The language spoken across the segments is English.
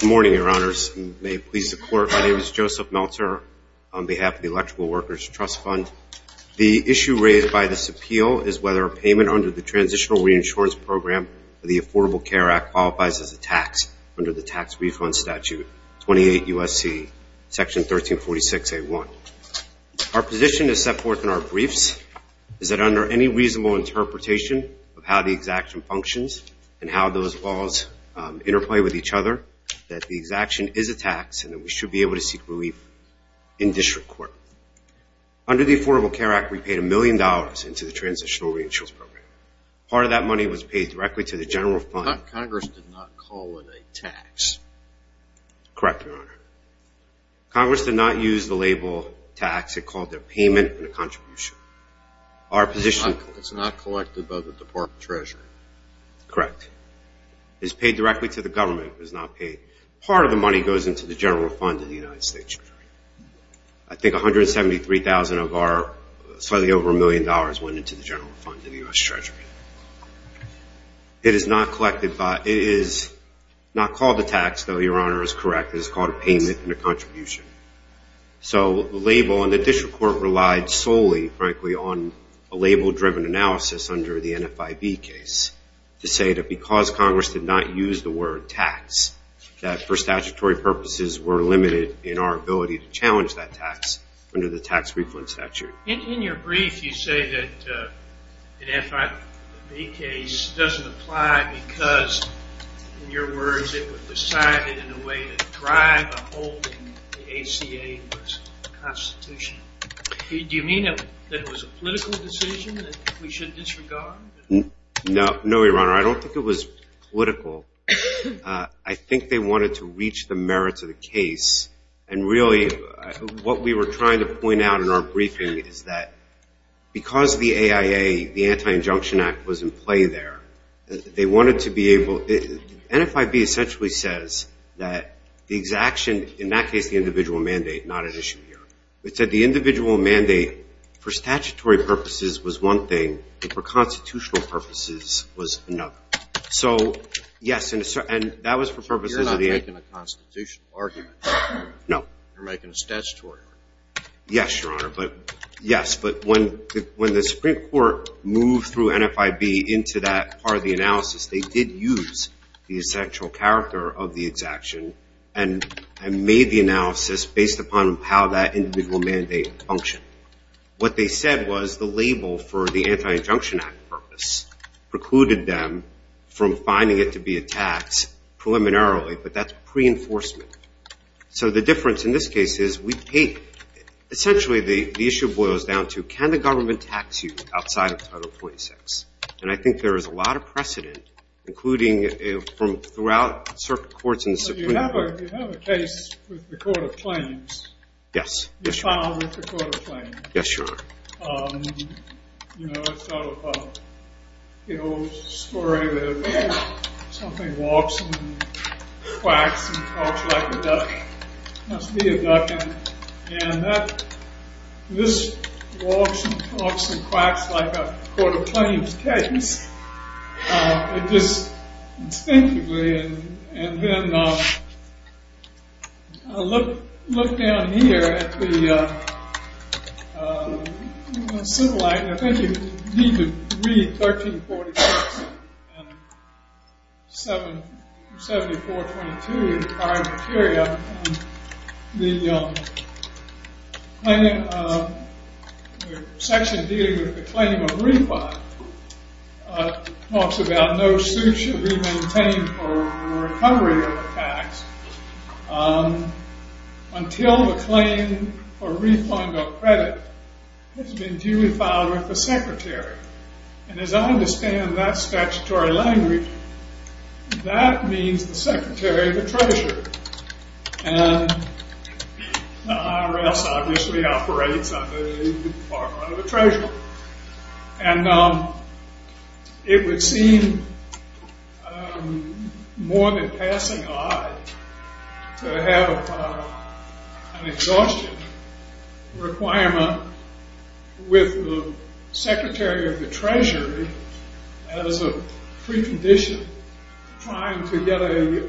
Good morning, Your Honors. My name is Joseph Meltzer on behalf of the Electrical Workers Trust Fund. The issue raised by this appeal is whether a payment under the Transitional Reinsurance Program of the Affordable Care Act qualifies as a tax under the Tax Refund Statute 28 U.S.C. Section 1346A.1. Our position is set forth in our briefs is that under any way with each other that the exaction is a tax and that we should be able to seek relief in district court. Under the Affordable Care Act, we paid a million dollars into the Transitional Reinsurance Program. Part of that money was paid directly to the general fund. Congress did not call it a tax. Correct, Your Honor. Congress did not use the label tax. It called it a payment and a contribution. It's not collected by the Department of Treasury. Correct. It's paid directly to the government. It was not paid. Part of the money goes into the general fund of the United States. I think $173,000 of our slightly over a million dollars went into the general fund of the U.S. Treasury. It is not called a tax, though Your Honor is correct. It is called a payment and a contribution. So the label and the district court relied solely frankly on a label driven analysis under the NFIB case to say that because Congress did not use the word tax that for statutory purposes were limited in our ability to challenge that tax under the tax reference statute. In your brief you say that the NFIB case doesn't apply because, in your words, it was decided in a way that drive a hold in the ACA Constitution. Do you mean that it was a political decision that we should disregard? No, Your Honor. I don't think it was political. I think they wanted to reach the merits of the case and really what we were trying to point out in our briefing is that because the AIA, the wanted to be able, NFIB essentially says that the exaction, in that case the individual mandate, not an issue here. It said the individual mandate for statutory purposes was one thing and for constitutional purposes was another. So yes, and that was for purposes of the You're not making a constitutional argument. No. You're making a statutory argument. Yes, Your Honor, but yes, but when the Supreme Court moved through NFIB into that part of the analysis, they did use the essential character of the exaction and made the analysis based upon how that individual mandate functioned. What they said was the label for the Anti-Injunction Act purpose precluded them from finding it to be a tax preliminarily, but that's pre-enforcement. So the difference in this case is we take, essentially the issue boils down to can the government tax you outside of Title 26? And I think there is a lot of precedent, including from throughout certain courts in the Supreme Court. You have a case with the Court of Claims. Yes, Your Honor. You filed with the Court of Claims. Yes, Your Honor. You know, it's sort of an old story where something walks and quacks and quacks like a duck. It must be a duck. And this walks and quacks and quacks like a Court of Claims case. Just instinctively, and then look down here at the civil act, and I think you need to 7422 in the prior criteria, the section dealing with the claim of refund talks about no suit should be maintained for recovery of the tax until the claim for refund or credit has been duly filed with the secretary. And as I understand that statutory language, that means the secretary of the treasurer. And the IRS obviously operates under the department of the treasurer. And it would seem more than passing odd to have an exhaustion requirement with the secretary of the treasury as a precondition trying to get a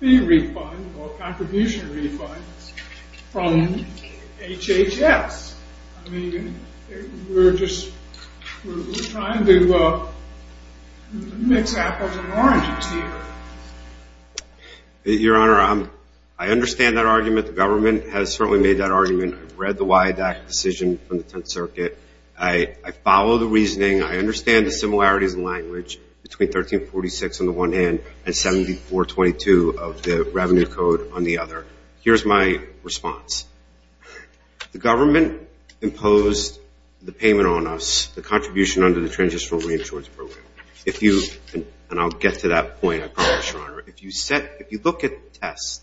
fee refund or contribution refund from HHS. I mean, we're just trying to mix apples and oranges here. Your Honor, I understand that argument. The government has certainly made that argument. I've read the WIADAC decision from the Tenth Circuit. I follow the reasoning. I understand the similarities in language between 1346 on the one hand and 7422 of the revenue code on the other. Here's my response. The government imposed the payment on us, the contribution under the Transitional Reinsurance Program. And I'll get to that point, I promise, Your Honor. If you look at tests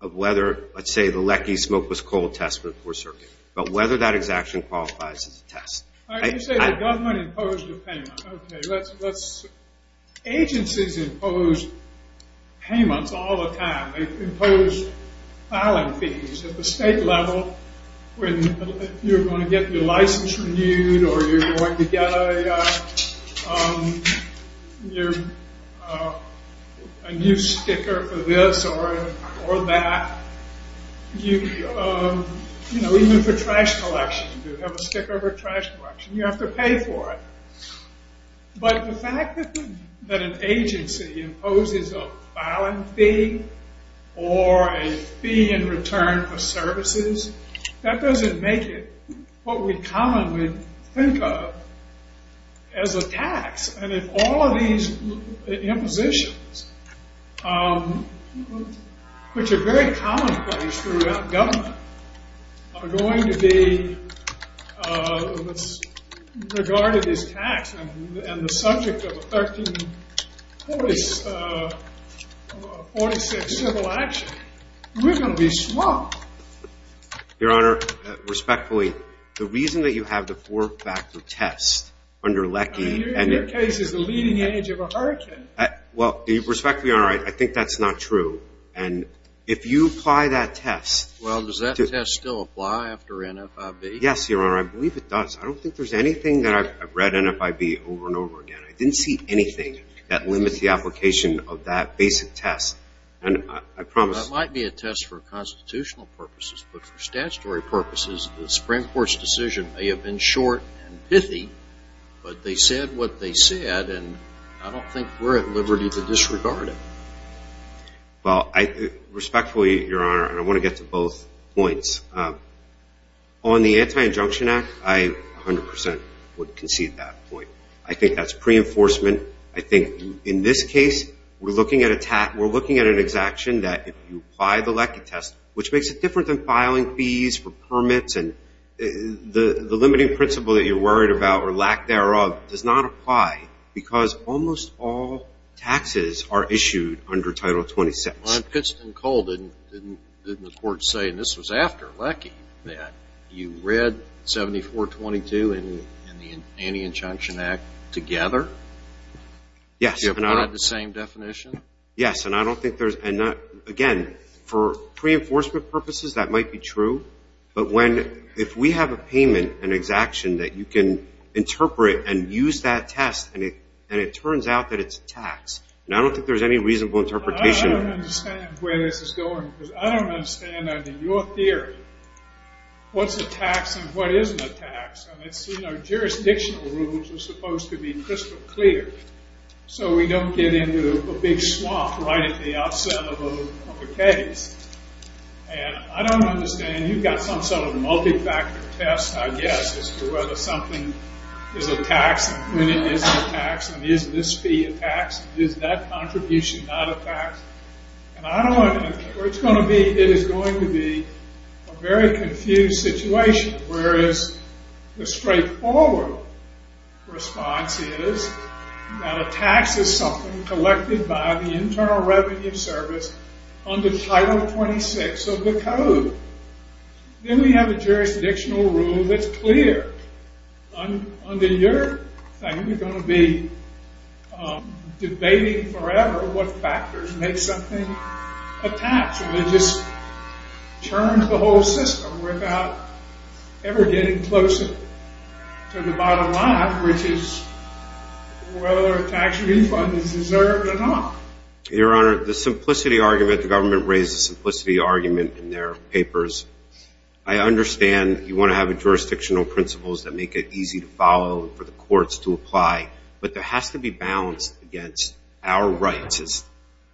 of whether, let's say, the Lecky smokeless coal test with the Fourth Circuit, but whether that exaction qualifies as a test. You say the government imposed the payment. Okay, let's... Agencies impose payments all the time. They impose filing fees at the state level when you're going to get your license renewed or you're going to get a new sticker for this or that. Even for trash collection, you have a sticker for trash collection. You have to pay for it. But the fact that an agency imposes a filing fee or a fee in return for services, that doesn't make it what we commonly think of as a tax. And if all of these impositions, which are very commonplace throughout government, are going to be regarded as tax and the subject of a 1346 civil action, we're going to be swamped. Your Honor, respectfully, the reason that you have the four-factor test under Lecky... Your case is the leading edge of a hurricane. Well, respectfully, Your Honor, I think that's not true. And if you apply that test... Well, does that test still apply after NFIB? Yes, Your Honor, I believe it does. I don't think there's anything that I've read NFIB over and over again. I didn't see anything that limits the application of that basic test. And I promise... That might be a test for constitutional purposes, but for statutory purposes, the Supreme Court's decision may have been short and pithy, but they said what they said, and I don't think we're at liberty to disregard it. Well, respectfully, Your Honor, and I want to get to both points, on the Anti-Injunction Act, I 100% would concede that point. I think that's pre-enforcement. I think in this case, we're looking at an exaction that if you apply the Lecky test, which makes it different than filing fees for permits, and the limiting principle that you're worried about, or lack thereof, does not apply, because almost all taxes are issued under Title XXVI. Well, in Pittston-Cole, didn't the court say, and this was after Lecky, that you read 7422 and the Anti-Injunction Act together? Yes, and I don't... Do you apply the same definition? Yes, and I don't think there's... Again, for pre-enforcement purposes, that might be true, but if we have a payment, an exaction, that you can interpret and use that test, and it turns out that it's a tax, and I don't think there's any reasonable interpretation... I don't understand where this is going, because I don't understand, under your theory, what's a tax and what isn't a tax. And it's, you know, jurisdictional rules are supposed to be crystal clear, so we don't get into a big swamp right at the outset of a case. And I don't understand. You've got some sort of multi-factor test, I guess, as to whether something is a tax, and when it is a tax, and is this fee a tax? Is that contribution not a tax? And I don't want to... It's going to be... It is going to be a very confused situation, whereas the straightforward response is that a tax is something collected by the Internal Revenue Service under Title 26 of the Code. Then we have a jurisdictional rule that's clear. Under your thing, you're going to be debating forever what factors make something a tax. And it just turns the whole system without ever getting closer to the bottom line, which is whether a tax refund is deserved or not. Your Honor, the simplicity argument, the government raised the simplicity argument in their papers. I understand you want to have jurisdictional principles that make it easy to follow and for the courts to apply, but there has to be balance against our rights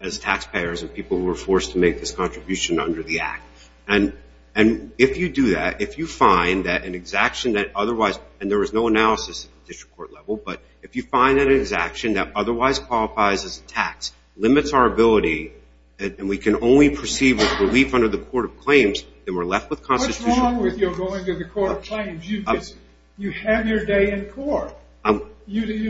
as taxpayers and people who are forced to make this contribution under the Act. And if you do that, if you find that an exaction that otherwise... And there is no analysis at the district court level, but if you find that an exaction that otherwise qualifies as a tax limits our ability and we can only proceed with relief under the Court of Claims, then we're left with constitutional... What's wrong with your going to the Court of Claims? You're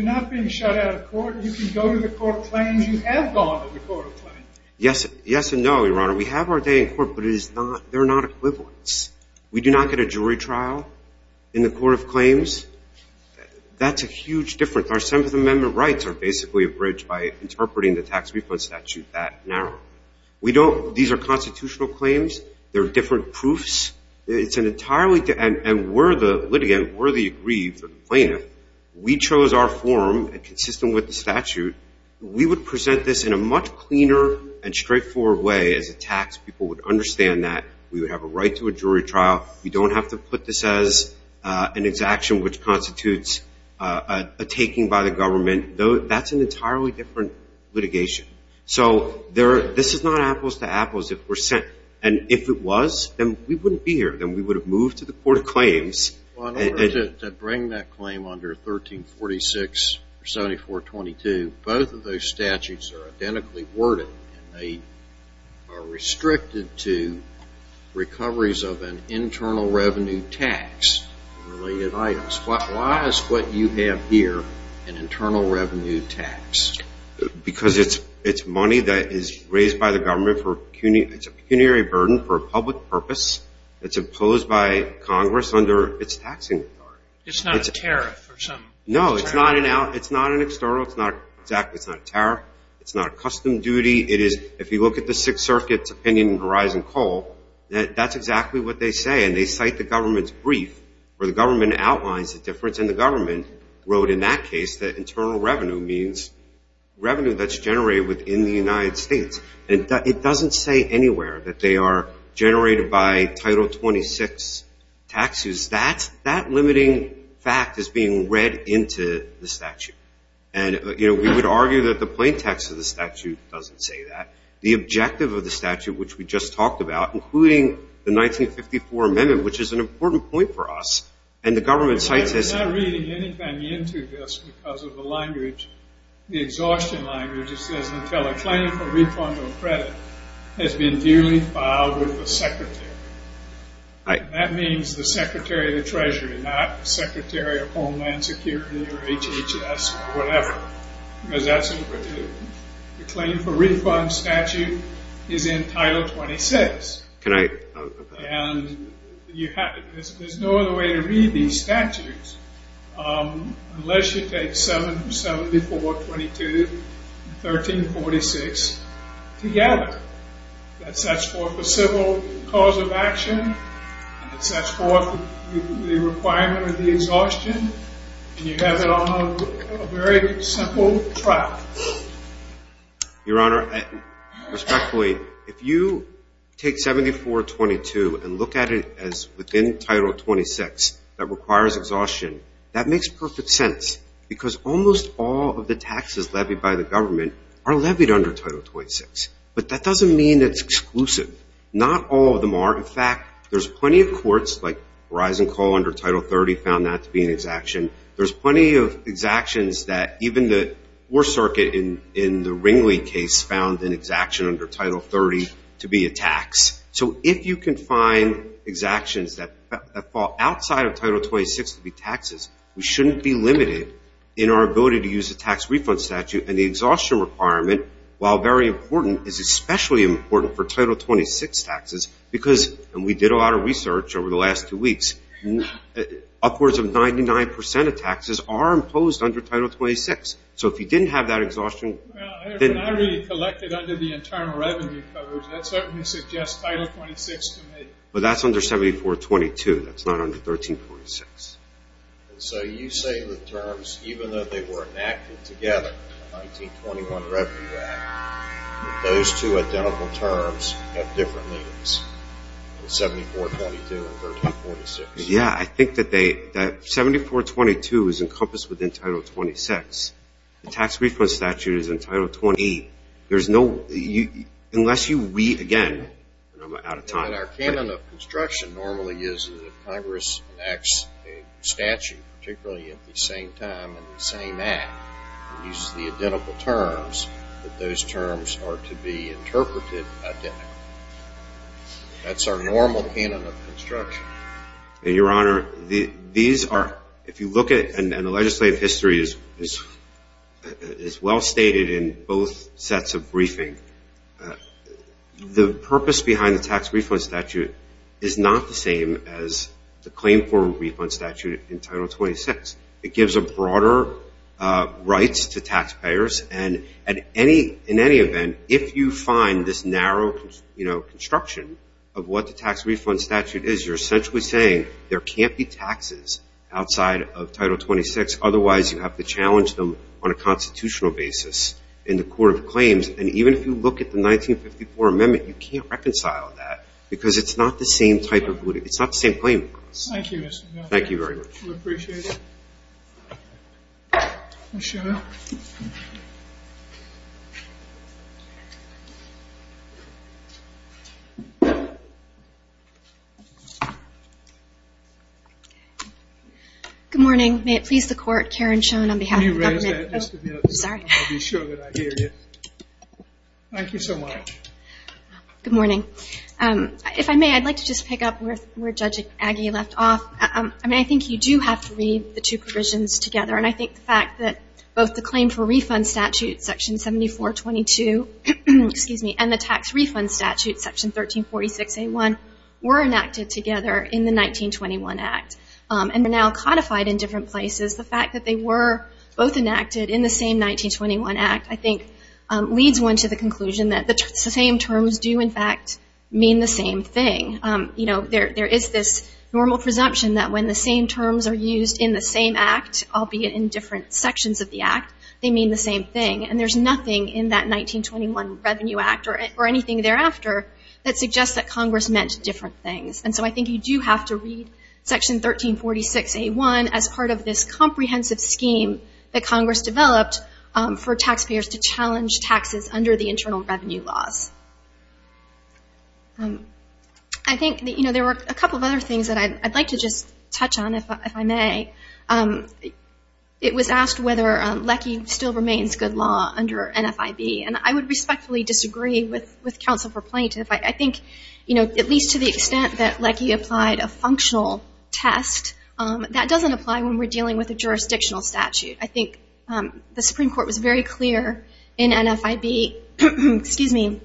not being shut out of court. You can go to the Court of Claims. You have gone to the Court of Claims. Yes and no, Your Honor. We have our day in court, but they're not equivalents. We do not get a jury trial in the Court of Claims. That's a huge difference. Our Seventh Amendment rights are basically abridged by interpreting the tax refund statute that narrow. We don't... These are constitutional claims. They're different proofs. It's an entirely... And we're the litigant. We're the aggrieved plaintiff. We chose our form and consistent with the statute. We would present this in a much cleaner and straightforward way as a tax. People would understand that. We would have a right to a jury trial. We don't have to put this as an exaction which constitutes a taking by the government. That's an entirely different litigation. So this is not apples to apples. And if it was, then we wouldn't be here. Then we would have moved to the Court of Claims. Well, in order to bring that claim under 1346 or 7422, both of those statutes are identically worded, and they are restricted to recoveries of an internal revenue tax related items. Why is what you have here an internal revenue tax? Because it's money that is raised by the government. It's a pecuniary burden for a public purpose. It's imposed by Congress under its taxing authority. It's not a tariff or something? No, it's not an external. It's not a tariff. It's not a custom duty. If you look at the Sixth Circuit's opinion in Verizon Coal, that's exactly what they say. And they cite the government's brief where the government outlines the difference, and the government wrote in that case that internal revenue means revenue that's generated within the United States. And it doesn't say anywhere that they are generated by Title 26 taxes. That limiting fact is being read into the statute. And, you know, we would argue that the plain text of the statute doesn't say that. The objective of the statute, which we just talked about, including the 1954 amendment, which is an important point for us, and the government cites this. I'm not reading anything into this because of the language, the exhaustion language. It says, until a claim for refund or credit has been duly filed with the Secretary. That means the Secretary of the Treasury, not the Secretary of Homeland Security or HHS or whatever, because that's overdue. The claim for refund statute is in Title 26. And there's no other way to read these statutes unless you take 7422 and 1346 together. That sets forth the civil cause of action. It sets forth the requirement of the exhaustion. And you have it on a very simple track. Your Honor, respectfully, if you take 7422 and look at it as within Title 26 that requires exhaustion, that makes perfect sense because almost all of the taxes levied by the government are levied under Title 26. But that doesn't mean it's exclusive. Not all of them are. In fact, there's plenty of courts, like Verizon Coal under Title 30 found that to be an exaction. There's plenty of exactions that even the Fourth Circuit in the Ringley case found an exaction under Title 30 to be a tax. So if you can find exactions that fall outside of Title 26 to be taxes, we shouldn't be limited in our ability to use a tax refund statute. And the exhaustion requirement, while very important, is especially important for Title 26 taxes because, and we did a lot of research over the last two weeks, upwards of 99% of taxes are imposed under Title 26. So if you didn't have that exhaustion. When I read it collected under the Internal Revenue Coverage, that certainly suggests Title 26 to me. But that's under 7422. That's not under 1346. So you say the terms, even though they were enacted together, 1921 Revenue Act, those two identical terms have different meanings, 7422 and 1346. Yeah, I think that 7422 is encompassed within Title 26. The tax refund statute is in Title 28. There's no, unless you read again, and I'm out of time. And our canon of construction normally is that if Congress enacts a statute, particularly at the same time and the same act, and uses the identical terms, that those terms are to be interpreted identically. That's our normal canon of construction. Your Honor, these are, if you look at it, and the legislative history is well stated in both sets of briefing. The purpose behind the tax refund statute is not the same as the claim for refund statute in Title 26. It gives a broader rights to taxpayers, and in any event, if you find this narrow construction of what the tax refund statute is, you're essentially saying there can't be taxes outside of Title 26, otherwise you have to challenge them on a constitutional basis in the Court of Claims. And even if you look at the 1954 amendment, you can't reconcile that, because it's not the same type of, it's not the same claim. Thank you, Mr. Miller. Thank you very much. We appreciate it. Ms. Schoen. Good morning. May it please the Court, Karen Schoen on behalf of the government. Can you raise that just a minute? Sorry. I'll be sure that I hear you. Thank you so much. Good morning. If I may, I'd like to just pick up where Judge Agee left off. I mean, I think you do have to read the two provisions together, and I think the fact that both the claim for refund statute, Section 7422, and the tax refund statute, Section 1346A1, were enacted together in the 1921 Act and are now codified in different places, the fact that they were both enacted in the same 1921 Act, I think leads one to the conclusion that the same terms do, in fact, mean the same thing. You know, there is this normal presumption that when the same terms are used in the same act, albeit in different sections of the act, they mean the same thing, and there's nothing in that 1921 Revenue Act or anything thereafter that suggests that Congress meant different things. And so I think you do have to read Section 1346A1 as part of this comprehensive scheme that Congress developed for taxpayers to challenge taxes under the internal revenue laws. I think, you know, there were a couple of other things that I'd like to just touch on, if I may. It was asked whether LECI still remains good law under NFIB, and I would respectfully disagree with counsel for plaintiff. I think, you know, at least to the extent that LECI applied a functional test, that doesn't apply when we're dealing with a jurisdictional statute. I think the Supreme Court was very clear in NFIB, excuse me,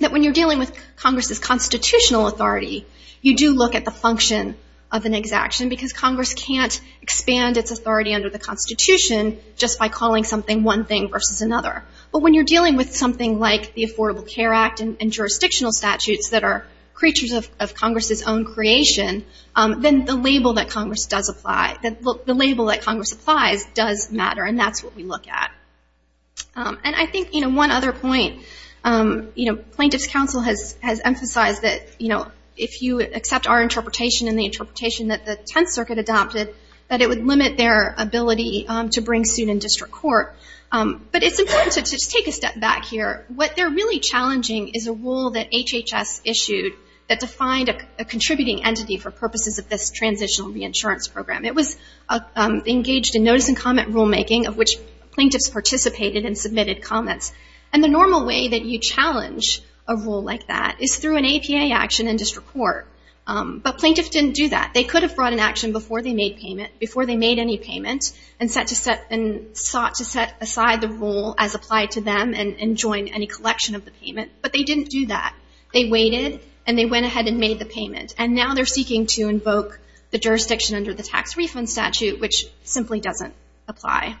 that when you're dealing with Congress's constitutional authority, you do look at the function of an exaction, because Congress can't expand its authority under the Constitution just by calling something one thing versus another. But when you're dealing with something like the Affordable Care Act and jurisdictional statutes that are creatures of Congress's own creation, then the label that Congress does apply, the label that Congress applies does matter, and that's what we look at. And I think, you know, one other point, you know, plaintiff's counsel has emphasized that, you know, if you accept our interpretation and the interpretation that the Tenth Circuit adopted, that it would limit their ability to bring suit in district court. But it's important to just take a step back here. What they're really challenging is a rule that HHS issued that defined a contributing entity for purposes of this transitional reinsurance program. It was engaged in notice and comment rulemaking, of which plaintiffs participated and submitted comments. And the normal way that you challenge a rule like that is through an APA action in district court. But plaintiffs didn't do that. They could have brought an action before they made payment, before they made any payment, and sought to set aside the rule as applied to them and join any collection of the payment. But they didn't do that. They waited, and they went ahead and made the payment. And now they're seeking to invoke the jurisdiction under the tax refund statute, which simply doesn't apply.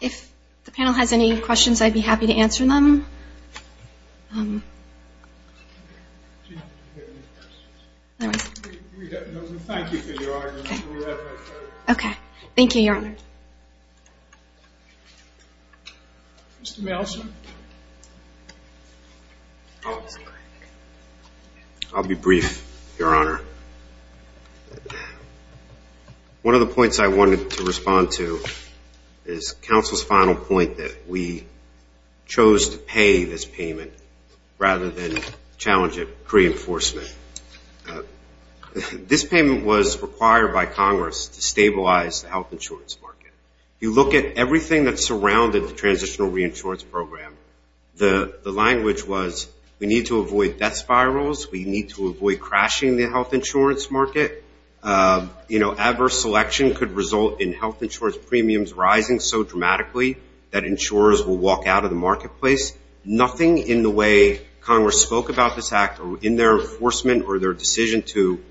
If the panel has any questions, I'd be happy to answer them. Okay. Thank you, Your Honor. Okay. Mr. Melson. I'll be brief, Your Honor. One of the points I wanted to respond to is counsel's final point that we chose to pay this payment rather than challenge it pre-enforcement. This payment was required by Congress to stabilize the health insurance market. If you look at everything that surrounded the transitional reinsurance program, the language was we need to avoid death spirals. We need to avoid crashing the health insurance market. You know, adverse selection could result in health insurance premiums rising so dramatically that insurers will walk out of the marketplace. Nothing in the way Congress spoke about this act or in their enforcement or their decision to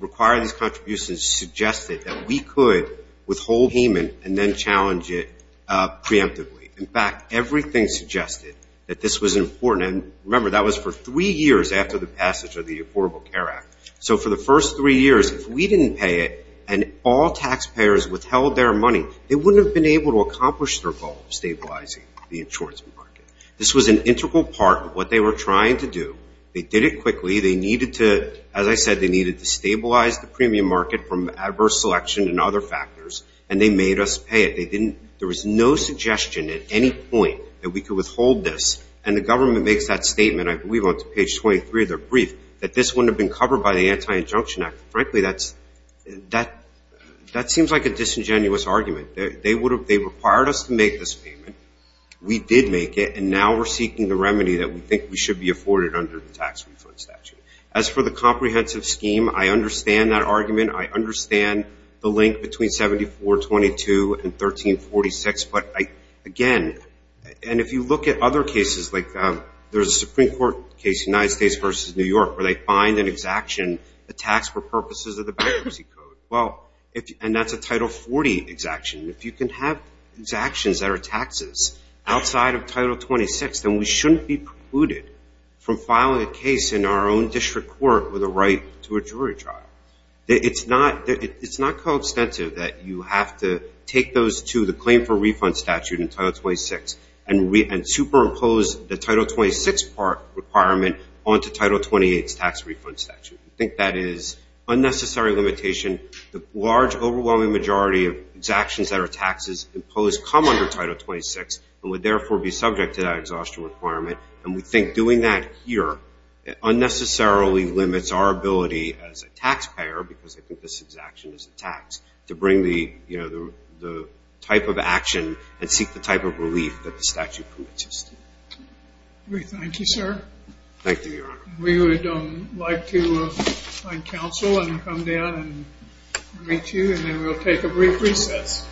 require these contributions suggested that we could withhold payment and then challenge it preemptively. In fact, everything suggested that this was important. And remember, that was for three years after the passage of the Affordable Care Act. So for the first three years, if we didn't pay it and all taxpayers withheld their money, they wouldn't have been able to accomplish their goal of stabilizing the insurance market. This was an integral part of what they were trying to do. They did it quickly. They needed to, as I said, they needed to stabilize the premium market from adverse selection and other factors, and they made us pay it. There was no suggestion at any point that we could withhold this. And the government makes that statement, I believe, on page 23 of their brief, that this wouldn't have been covered by the Anti-Injunction Act. Frankly, that seems like a disingenuous argument. They required us to make this payment. We did make it, and now we're seeking the remedy that we think we should be afforded under the tax refund statute. As for the comprehensive scheme, I understand that argument. I understand the link between 7422 and 1346. But, again, and if you look at other cases, like there's a Supreme Court case, United States versus New York, where they find an exaction, a tax for purposes of the bankruptcy code. Well, and that's a Title 40 exaction. If you can have exactions that are taxes outside of Title 26, then we shouldn't be precluded from filing a case in our own district court with a right to a jury trial. It's not coextensive that you have to take those to the claim for refund statute in Title 26 and superimpose the Title 26 part requirement onto Title 28's tax refund statute. We think that is unnecessary limitation. The large, overwhelming majority of exactions that are taxes imposed come under Title 26 and would therefore be subject to that exhaustion requirement. And we think doing that here unnecessarily limits our ability as a taxpayer, because I think this exaction is a tax, to bring the type of action and seek the type of relief that the statute preaches. Thank you, sir. Thank you, Your Honor. We would like to find counsel and come down and meet you, and then we'll take a brief recess.